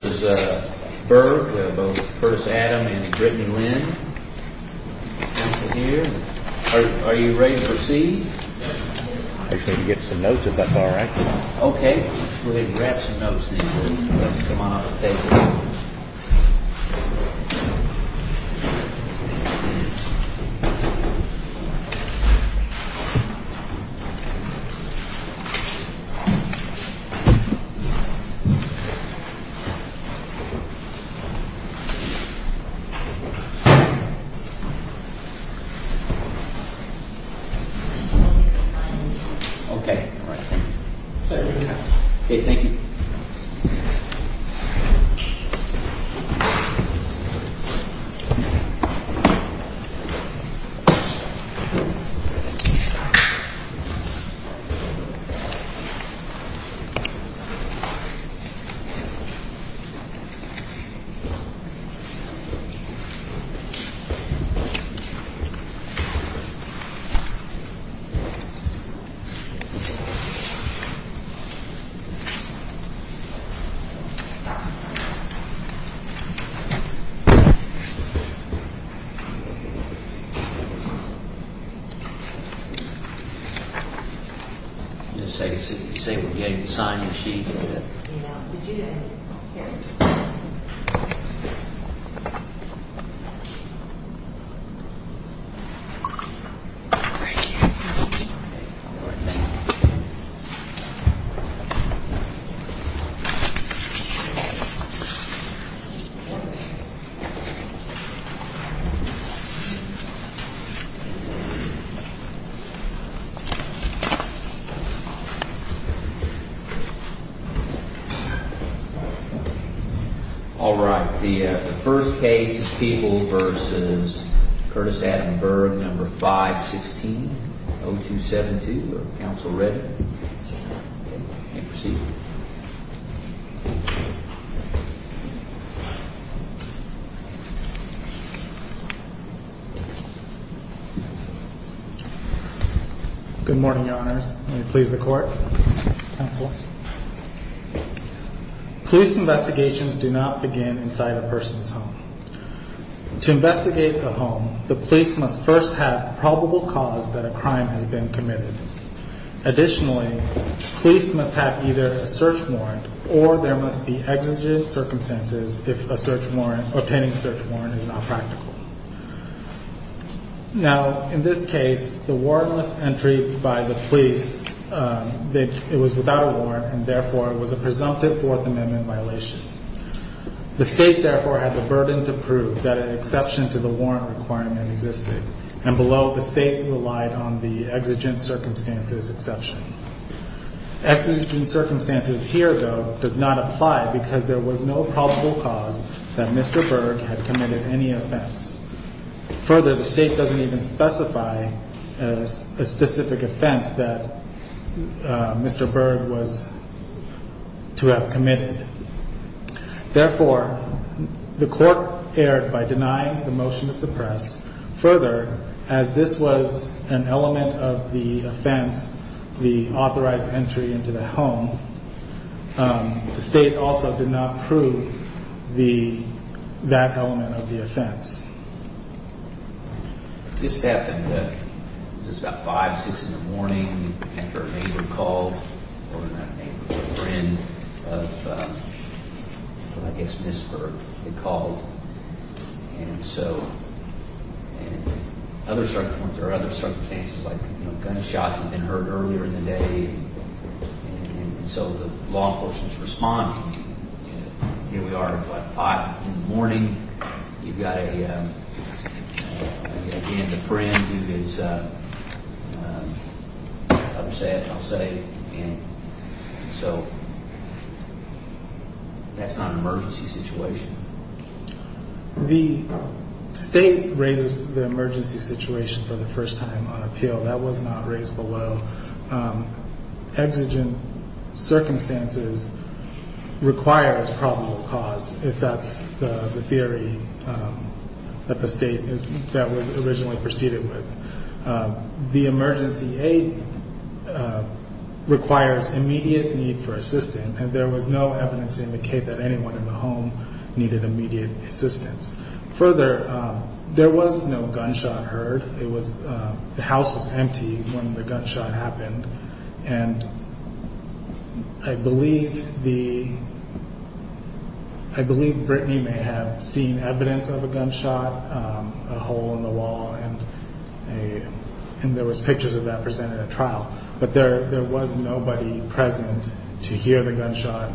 First, Adam and Brittany Lynn. Are you ready to proceed? I just need to get some notes, if that's all right. Okay. We'll have you grab some notes and come on up to the table. Okay. All right. Thank you. Just so you can see, we'll be able to sign your sheet. Thank you. All right. The first case is Peoples v. Curtis Adam Berg, No. 516-0272. Counsel ready? Yes. Okay. Proceed. Good morning, Your Honors. May it please the Court. Counsel. Police investigations do not begin inside a person's home. To investigate a home, the police must first have probable cause that a crime has been committed. Additionally, police must have either a search warrant or there must be exigent circumstances if obtaining a search warrant is not practical. Now, in this case, the warrantless entry by the police, it was without a warrant and therefore it was a presumptive Fourth Amendment violation. The State, therefore, had the burden to prove that an exception to the warrant requirement existed. And below, the State relied on the exigent circumstances exception. Exigent circumstances here, though, does not apply because there was no probable cause that Mr. Berg had committed any offense. Further, the State doesn't even specify a specific offense that Mr. Berg was to have committed. Therefore, the Court erred by denying the motion to suppress. Further, as this was an element of the offense, the authorized entry into the home, the State also did not prove that element of the offense. This happened at about 5, 6 in the morning after a neighbor called or a friend of, I guess, Ms. Berg had called. And so, there are other circumstances like gunshots had been heard earlier in the day and so the law enforcement is responding. Here we are at about 5 in the morning. You've got a friend who is upset, I'll say. And so, that's not an emergency situation. The State raises the emergency situation for the first time on appeal. That was not raised below. Exigent circumstances requires probable cause if that's the theory that the State that was originally proceeded with. The emergency aid requires immediate need for assistance and there was no evidence to indicate that anyone in the home needed immediate assistance. Further, there was no gunshot heard. The house was empty when the gunshot happened. And I believe Brittany may have seen evidence of a gunshot, a hole in the wall, and there was pictures of that presented at trial. But there was nobody present to hear the gunshot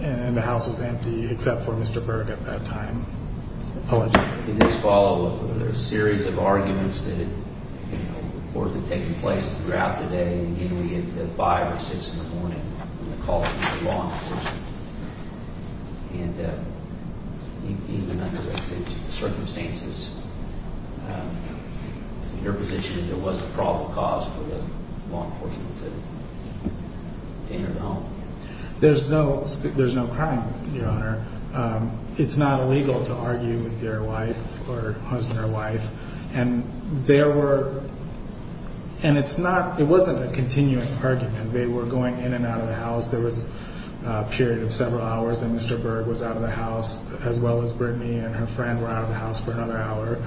and the house was empty except for Mr. Berg at that time. In this follow-up, there's a series of arguments that have taken place throughout the day. Again, we get to 5 or 6 in the morning when the call came from law enforcement. And even under such circumstances, your position is there was a probable cause for the law enforcement to enter the home? There's no crime, Your Honor. It's not illegal to argue with your wife or husband or wife. And there were, and it's not, it wasn't a continuous argument. They were going in and out of the house. There was a period of several hours that Mr. Berg was out of the house as well as Brittany and her friend were out of the house for another hour.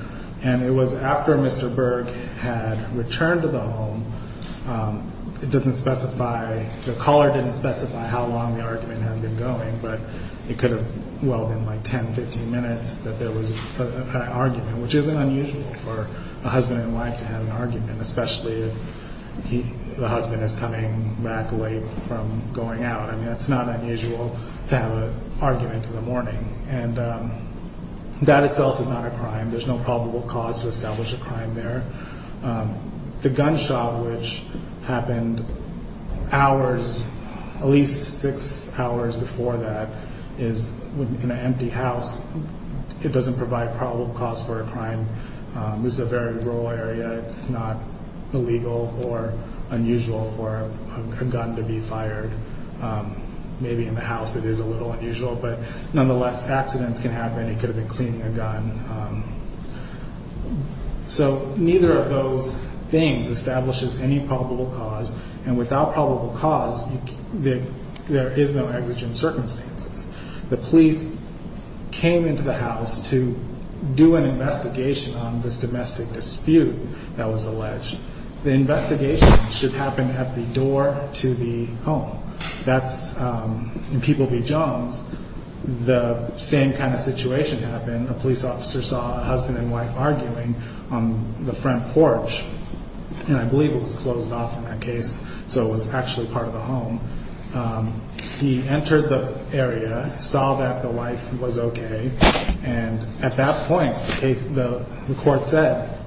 And it was after Mr. Berg had returned to the home, it doesn't specify, the caller didn't specify how long the argument had been going. But it could have, well, been like 10, 15 minutes that there was an argument, which isn't unusual for a husband and wife to have an argument, especially if the husband is coming back late from going out. I mean, it's not unusual to have an argument in the morning. And that itself is not a crime. There's no probable cause to establish a crime there. The gunshot, which happened hours, at least 6 hours before that, is in an empty house. It doesn't provide probable cause for a crime. This is a very rural area. It's not illegal or unusual for a gun to be fired. Maybe in the house it is a little unusual. But nonetheless, accidents can happen. It could have been cleaning a gun. So neither of those things establishes any probable cause. And without probable cause, there is no exigent circumstances. The police came into the house to do an investigation on this domestic dispute that was alleged. The investigation should happen at the door to the home. In People v. Jones, the same kind of situation happened. A police officer saw a husband and wife arguing on the front porch. And I believe it was closed off in that case, so it was actually part of the home. He entered the area, saw that the wife was okay. And at that point, the court said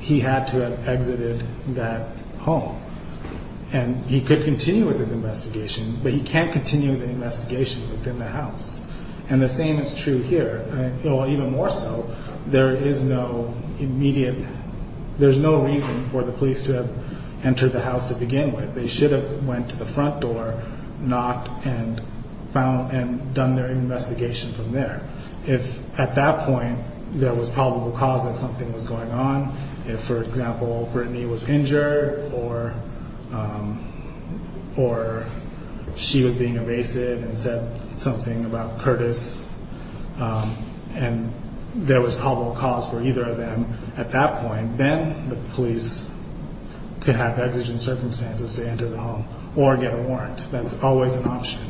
he had to have exited that home. And he could continue with his investigation, but he can't continue the investigation within the house. And the same is true here. Or even more so, there is no immediate, there's no reason for the police to have entered the house to begin with. They should have went to the front door, knocked, and found and done their investigation from there. If at that point there was probable cause that something was going on, if, for example, Brittany was injured or she was being evasive and said something about Curtis, and there was probable cause for either of them at that point, then the police could have exigent circumstances to enter the home or get a warrant. That's always an option.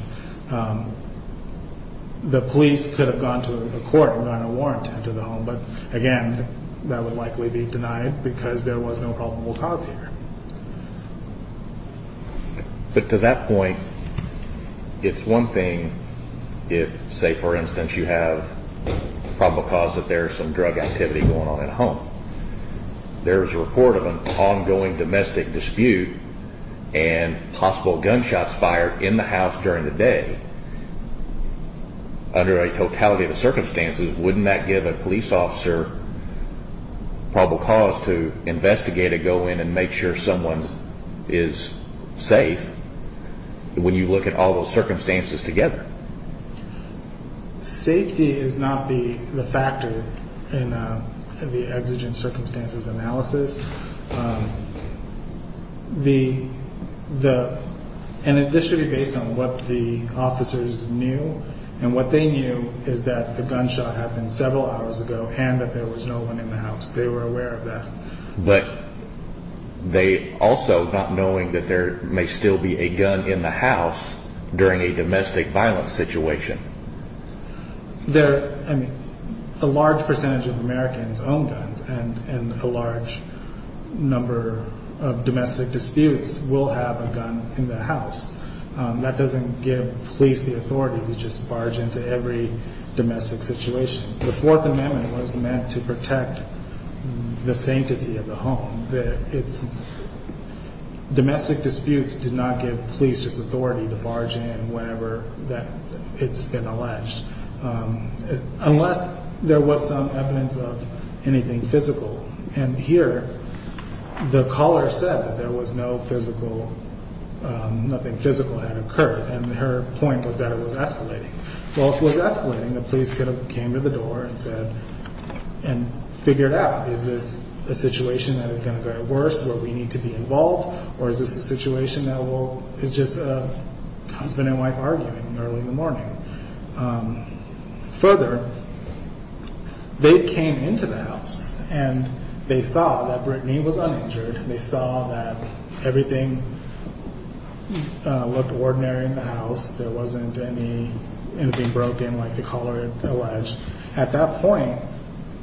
The police could have gone to the court and gotten a warrant to enter the home. But again, that would likely be denied because there was no probable cause here. But to that point, it's one thing if, say, for instance, you have probable cause that there's some drug activity going on at home. There's a report of an ongoing domestic dispute and possible gunshots fired in the house during the day. Under a totality of circumstances, wouldn't that give a police officer probable cause to investigate and go in and make sure someone is safe when you look at all those circumstances together? Safety is not the factor in the exigent circumstances analysis. And this should be based on what the officers knew. And what they knew is that the gunshot happened several hours ago and that there was no one in the house. They were aware of that. But they also not knowing that there may still be a gun in the house during a domestic violence situation. A large percentage of Americans own guns and a large number of domestic disputes will have a gun in the house. That doesn't give police the authority to just barge into every domestic situation. The Fourth Amendment was meant to protect the sanctity of the home. Domestic disputes do not give police this authority to barge in whenever it's been alleged, unless there was some evidence of anything physical. And here, the caller said that there was no physical, nothing physical had occurred. And her point was that it was escalating. Well, if it was escalating, the police could have came to the door and said, and figured out, is this a situation that is going to get worse, where we need to be involved, or is this a situation that is just a husband and wife arguing early in the morning? Further, they came into the house and they saw that Brittany was uninjured. There wasn't anything broken like the caller alleged. At that point,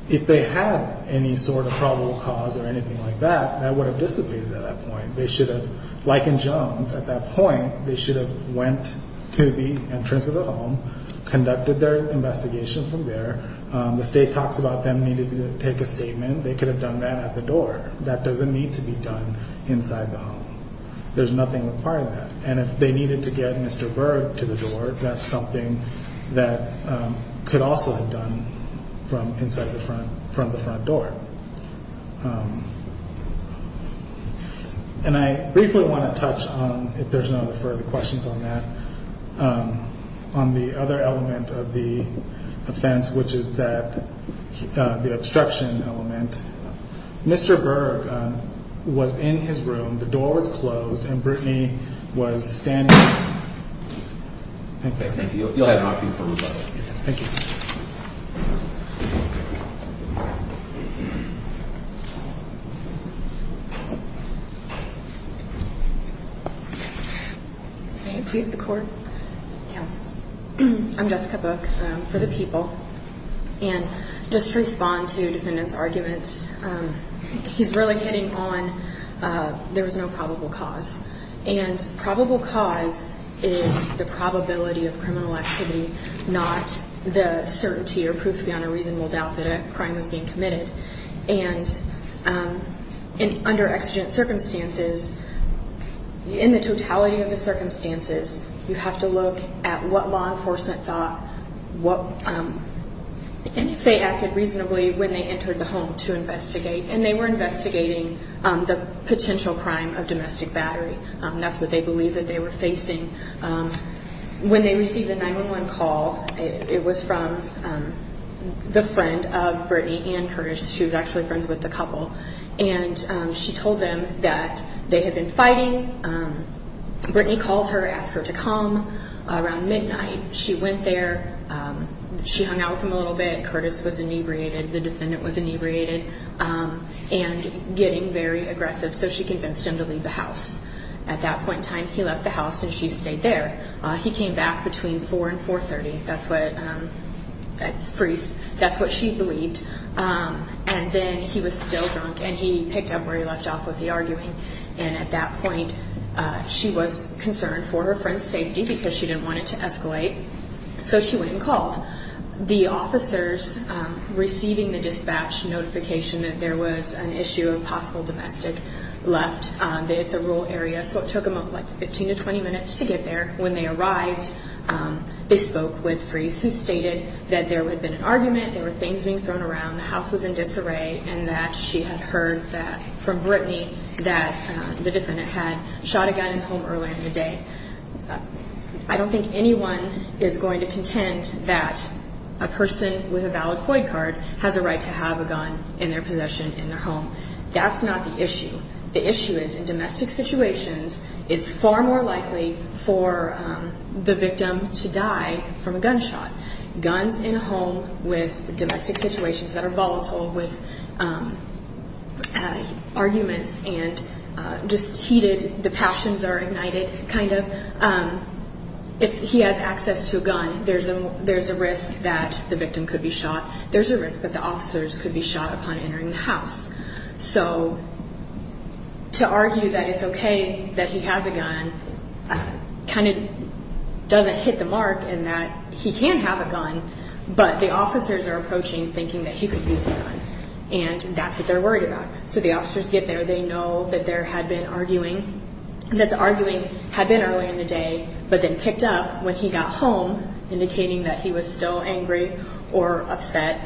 if they had any sort of probable cause or anything like that, that would have dissipated at that point. They should have, like in Jones, at that point, they should have went to the entrance of the home, conducted their investigation from there. The state talks about them needing to take a statement. They could have done that at the door. That doesn't need to be done inside the home. There's nothing required of that. And if they needed to get Mr. Berg to the door, that's something that could also have done from inside the front door. And I briefly want to touch on, if there's no further questions on that, on the other element of the offense, which is the obstruction element. Mr. Berg was in his room. The door was closed, and Brittany was standing there. Thank you. You'll have an option for rebuttal. Thank you. May it please the Court. I'm Jessica Book for the People. And just to respond to the defendant's arguments, he's really hitting on there was no probable cause. And probable cause is the probability of criminal activity, not the certainty or proof beyond a reasonable doubt that a crime was being committed. And under exigent circumstances, in the totality of the circumstances, you have to look at what law enforcement thought, and if they acted reasonably when they entered the home to investigate. And they were investigating the potential crime of domestic battery. That's what they believed that they were facing. When they received the 911 call, it was from the friend of Brittany and Curtis. She was actually friends with the couple. And she told them that they had been fighting. Brittany called her, asked her to come. Around midnight, she went there. She hung out with him a little bit. Curtis was inebriated. The defendant was inebriated and getting very aggressive. So she convinced him to leave the house. At that point in time, he left the house and she stayed there. He came back between 4 and 4.30. That's what she believed. And then he was still drunk, and he picked up where he left off with the arguing. And at that point, she was concerned for her friend's safety So she went and called. The officers receiving the dispatch notification that there was an issue, a possible domestic, left. It's a rural area, so it took them 15 to 20 minutes to get there. When they arrived, they spoke with Freeze, who stated that there had been an argument, there were things being thrown around, the house was in disarray, and that she had heard from Brittany that the defendant had shot a guy in the home earlier in the day. I don't think anyone is going to contend that a person with a valid COID card has a right to have a gun in their possession in their home. That's not the issue. The issue is, in domestic situations, it's far more likely for the victim to die from a gunshot. Guns in a home with domestic situations that are volatile with arguments and just heated, the passions are ignited, kind of. If he has access to a gun, there's a risk that the victim could be shot. There's a risk that the officers could be shot upon entering the house. So to argue that it's okay that he has a gun kind of doesn't hit the mark in that he can have a gun, but the officers are approaching thinking that he could use the gun. And that's what they're worried about. So the officers get there. They know that the arguing had been earlier in the day but then picked up when he got home, indicating that he was still angry or upset.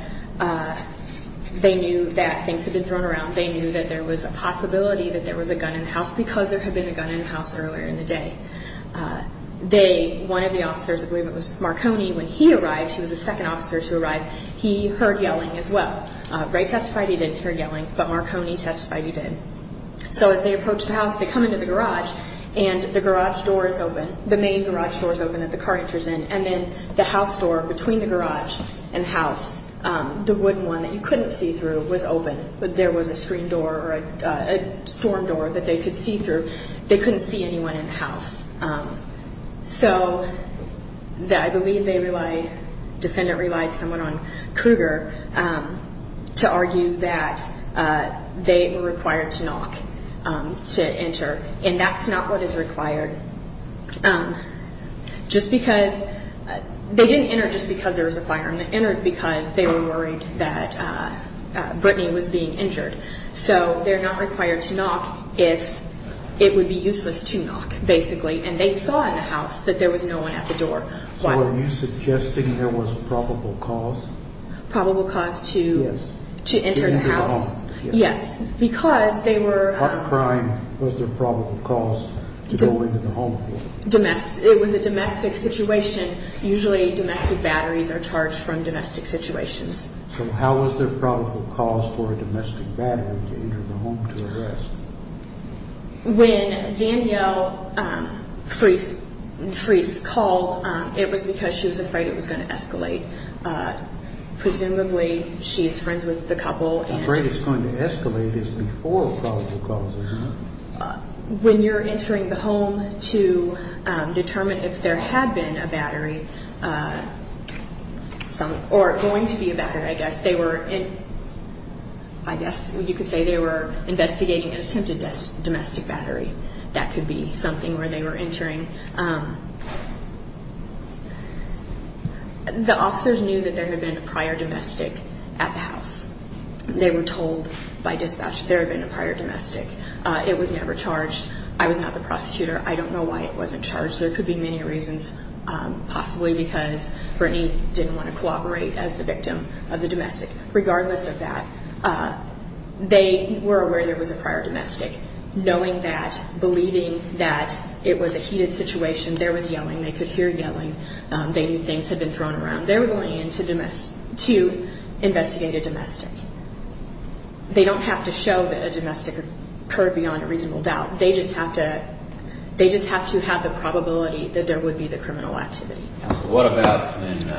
They knew that things had been thrown around. They knew that there was a possibility that there was a gun in the house because there had been a gun in the house earlier in the day. One of the officers, I believe it was Marconi, when he arrived, he was the second officer to arrive, he heard yelling as well. Wright testified he didn't hear yelling, but Marconi testified he did. So as they approach the house, they come into the garage, and the garage door is open, the main garage door is open that the car enters in, and then the house door between the garage and the house, the wooden one that you couldn't see through was open, but there was a screen door or a storm door that they could see through. They couldn't see anyone in the house. So I believe they relied, the defendant relied somewhat on Kruger. to argue that they were required to knock to enter, and that's not what is required. Just because, they didn't enter just because there was a fire, they entered because they were worried that Brittany was being injured. So they're not required to knock if it would be useless to knock, basically, and they saw in the house that there was no one at the door. So are you suggesting there was probable cause? Probable cause to enter the house? Yes, because they were... What crime was there probable cause to go into the home? It was a domestic situation. Usually domestic batteries are charged from domestic situations. So how was there probable cause for a domestic battery to enter the home to arrest? When Danielle Freese called, it was because she was afraid it was going to escalate. Presumably, she is friends with the couple. Afraid it's going to escalate is before probable cause, isn't it? When you're entering the home to determine if there had been a battery, or going to be a battery, I guess, I guess you could say they were investigating an attempted domestic battery. That could be something where they were entering. The officers knew that there had been a prior domestic at the house. They were told by dispatch there had been a prior domestic. It was never charged. I was not the prosecutor. I don't know why it wasn't charged. There could be many reasons, possibly because Brittany didn't want to cooperate as the victim of the domestic. Regardless of that, they were aware there was a prior domestic. Knowing that, believing that it was a heated situation, there was yelling. They could hear yelling. They knew things had been thrown around. They were going in to investigate a domestic. They don't have to show that a domestic occurred beyond a reasonable doubt. They just have to have the probability that there would be the criminal activity. Counsel, what about when,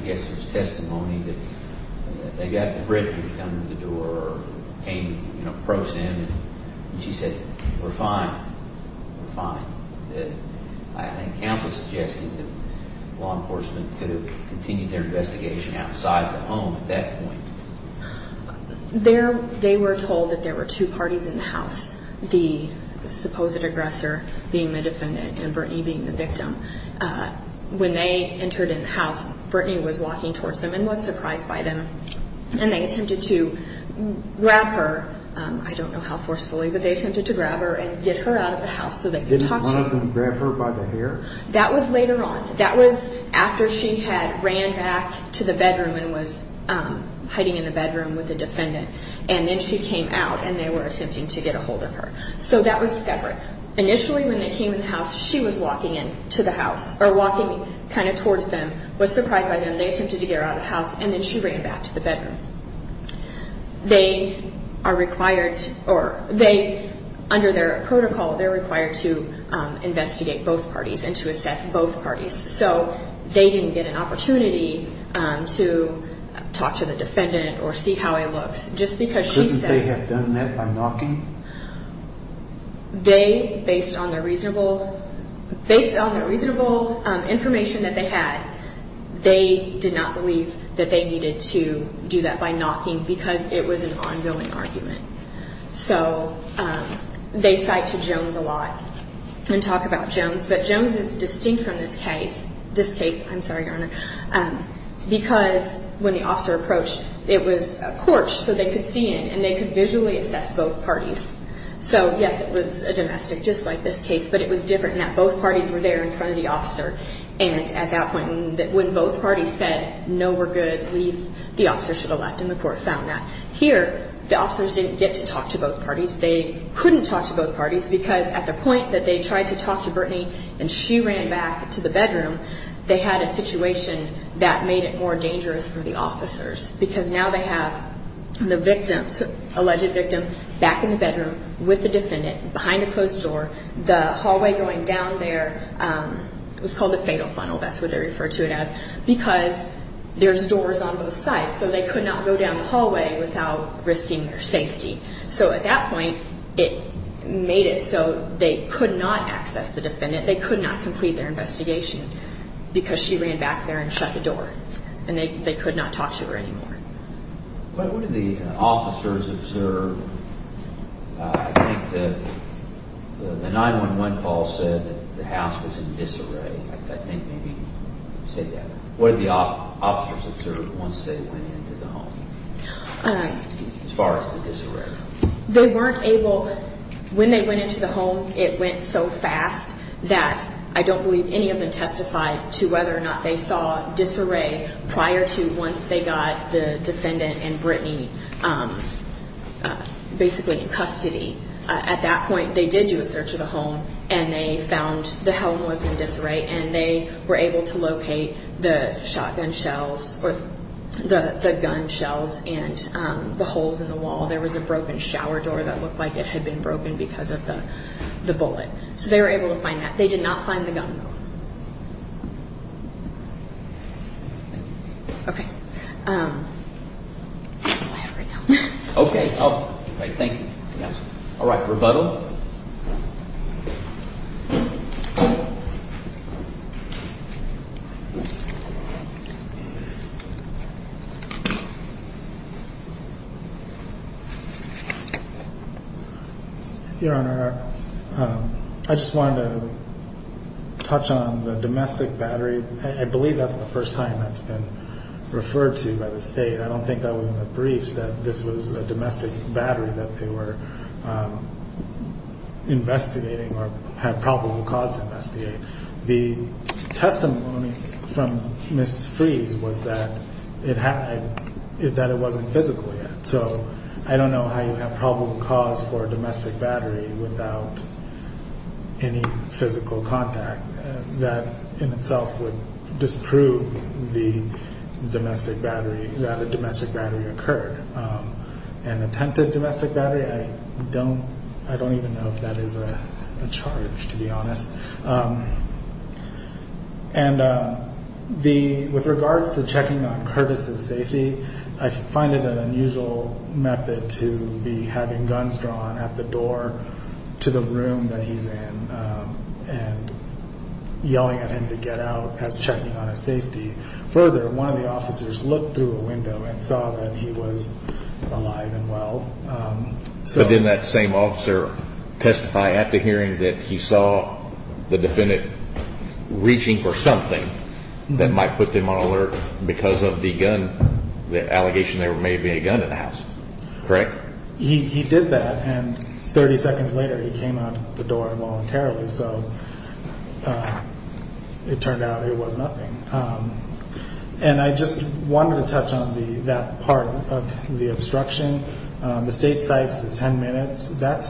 I guess it was testimony, that they got Brittany to come to the door or came to approach them, and she said, we're fine, we're fine. I think camp was suggesting that law enforcement could have continued their investigation outside the home at that point. the supposed aggressor being the defendant and Brittany being the victim. When they entered in the house, Brittany was walking towards them and was surprised by them, and they attempted to grab her. I don't know how forcefully, but they attempted to grab her and get her out of the house so they could talk to her. Didn't one of them grab her by the hair? That was later on. That was after she had ran back to the bedroom and was hiding in the bedroom with the defendant. And then she came out and they were attempting to get a hold of her. So that was separate. Initially when they came in the house, she was walking in to the house, or walking kind of towards them, was surprised by them. They attempted to get her out of the house, and then she ran back to the bedroom. They are required, or they, under their protocol, they're required to investigate both parties and to assess both parties. So they didn't get an opportunity to talk to the defendant or see how he looks, just because she says. Couldn't they have done that by knocking? They, based on the reasonable information that they had, they did not believe that they needed to do that by knocking because it was an ongoing argument. So they cite to Jones a lot and talk about Jones, but Jones is distinct from this case, this case, I'm sorry, Your Honor, because when the officer approached, it was a porch so they could see in and they could visually assess both parties. So, yes, it was a domestic, just like this case, but it was different in that both parties were there in front of the officer. And at that point, when both parties said, no, we're good, leave, the officer should have left and the court found that. Here, the officers didn't get to talk to both parties. They couldn't talk to both parties because at the point that they tried to talk to Brittany and she ran back to the bedroom, they had a situation that made it more dangerous for the officers because now they have the victim, alleged victim, back in the bedroom with the defendant behind a closed door, the hallway going down there, it was called the fatal funnel, that's what they refer to it as, because there's doors on both sides so they could not go down the hallway without risking their safety. So at that point, it made it so they could not access the defendant, they could not complete their investigation because she ran back there and shut the door and they could not talk to her anymore. What did the officers observe? I think the 911 call said that the house was in disarray. I think maybe you said that. What did the officers observe once they went into the home as far as the disarray? They weren't able, when they went into the home, it went so fast that I don't believe any of them testified to whether or not they saw disarray prior to once they got the defendant and Brittany basically in custody. At that point, they did do a search of the home and they found the home was in disarray and they were able to locate the shotgun shells or the gun shells and the holes in the wall. There was a broken shower door that looked like it had been broken because of the bullet. So they were able to find that. They did not find the gun, though. Okay, that's all I have right now. Okay, thank you. All right, rebuttal. Your Honor, I just wanted to touch on the domestic battery. I believe that's the first time that's been referred to by the state. I don't think that was in the briefs that this was a domestic battery that they were investigating or had probable cause to investigate. The testimony from Ms. Frese was that it wasn't physical yet. So I don't know how you have probable cause for a domestic battery without any physical contact. That in itself would disprove the domestic battery, that a domestic battery occurred. An attempted domestic battery? I don't even know if that is a charge, to be honest. With regards to checking on Curtis's safety, I find it an unusual method to be having guns drawn at the door to the room that he's in and yelling at him to get out as checking on his safety. Further, one of the officers looked through a window and saw that he was alive and well. But didn't that same officer testify at the hearing that he saw the defendant reaching for something that might put them on alert because of the allegation there may have been a gun in the house, correct? He did that, and 30 seconds later he came out the door voluntarily. So it turned out it was nothing. And I just wanted to touch on that part of the obstruction. The state cites the 10 minutes. The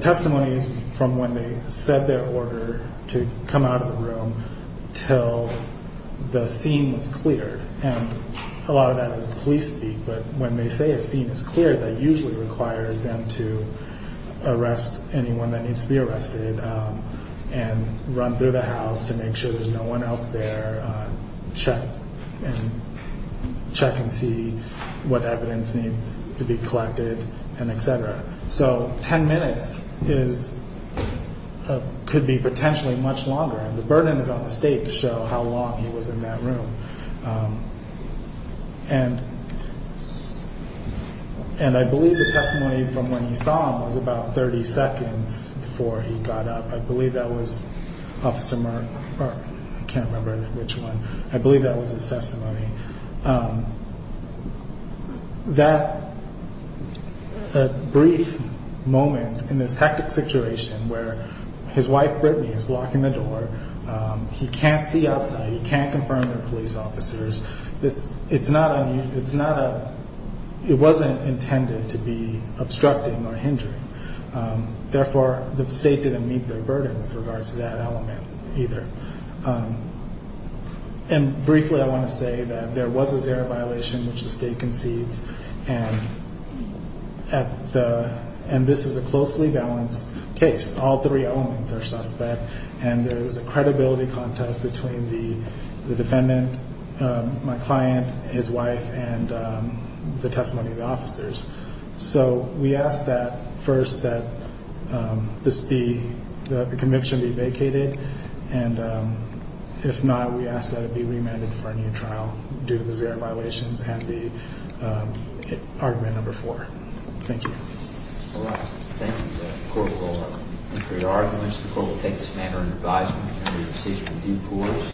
testimony is from when they said their order to come out of the room until the scene was cleared, and a lot of that is police speak. But when they say a scene is cleared, that usually requires them to arrest anyone that needs to be arrested and run through the house to make sure there's no one else there, check and see what evidence needs to be collected, and et cetera. So 10 minutes could be potentially much longer, and the burden is on the state to show how long he was in that room. And I believe the testimony from when he saw him was about 30 seconds before he got up. I believe that was Officer Merck. I can't remember which one. I believe that was his testimony. That brief moment in this hectic situation where his wife Brittany is blocking the door, he can't see outside, he can't confirm they're police officers, it wasn't intended to be obstructing or hindering. Therefore, the state didn't meet their burden with regards to that element either. And briefly, I want to say that there was a zero violation, which the state concedes, and this is a closely balanced case. All three elements are suspect, and there was a credibility contest between the defendant, my client, his wife, and the testimony of the officers. So we ask that first that the conviction be vacated, and if not, we ask that it be remanded for a new trial due to the zero violations and the argument number four. Thank you. All right. Thank you. The court will meet for your arguments. The court will take this matter under advisement and the decision will be poised.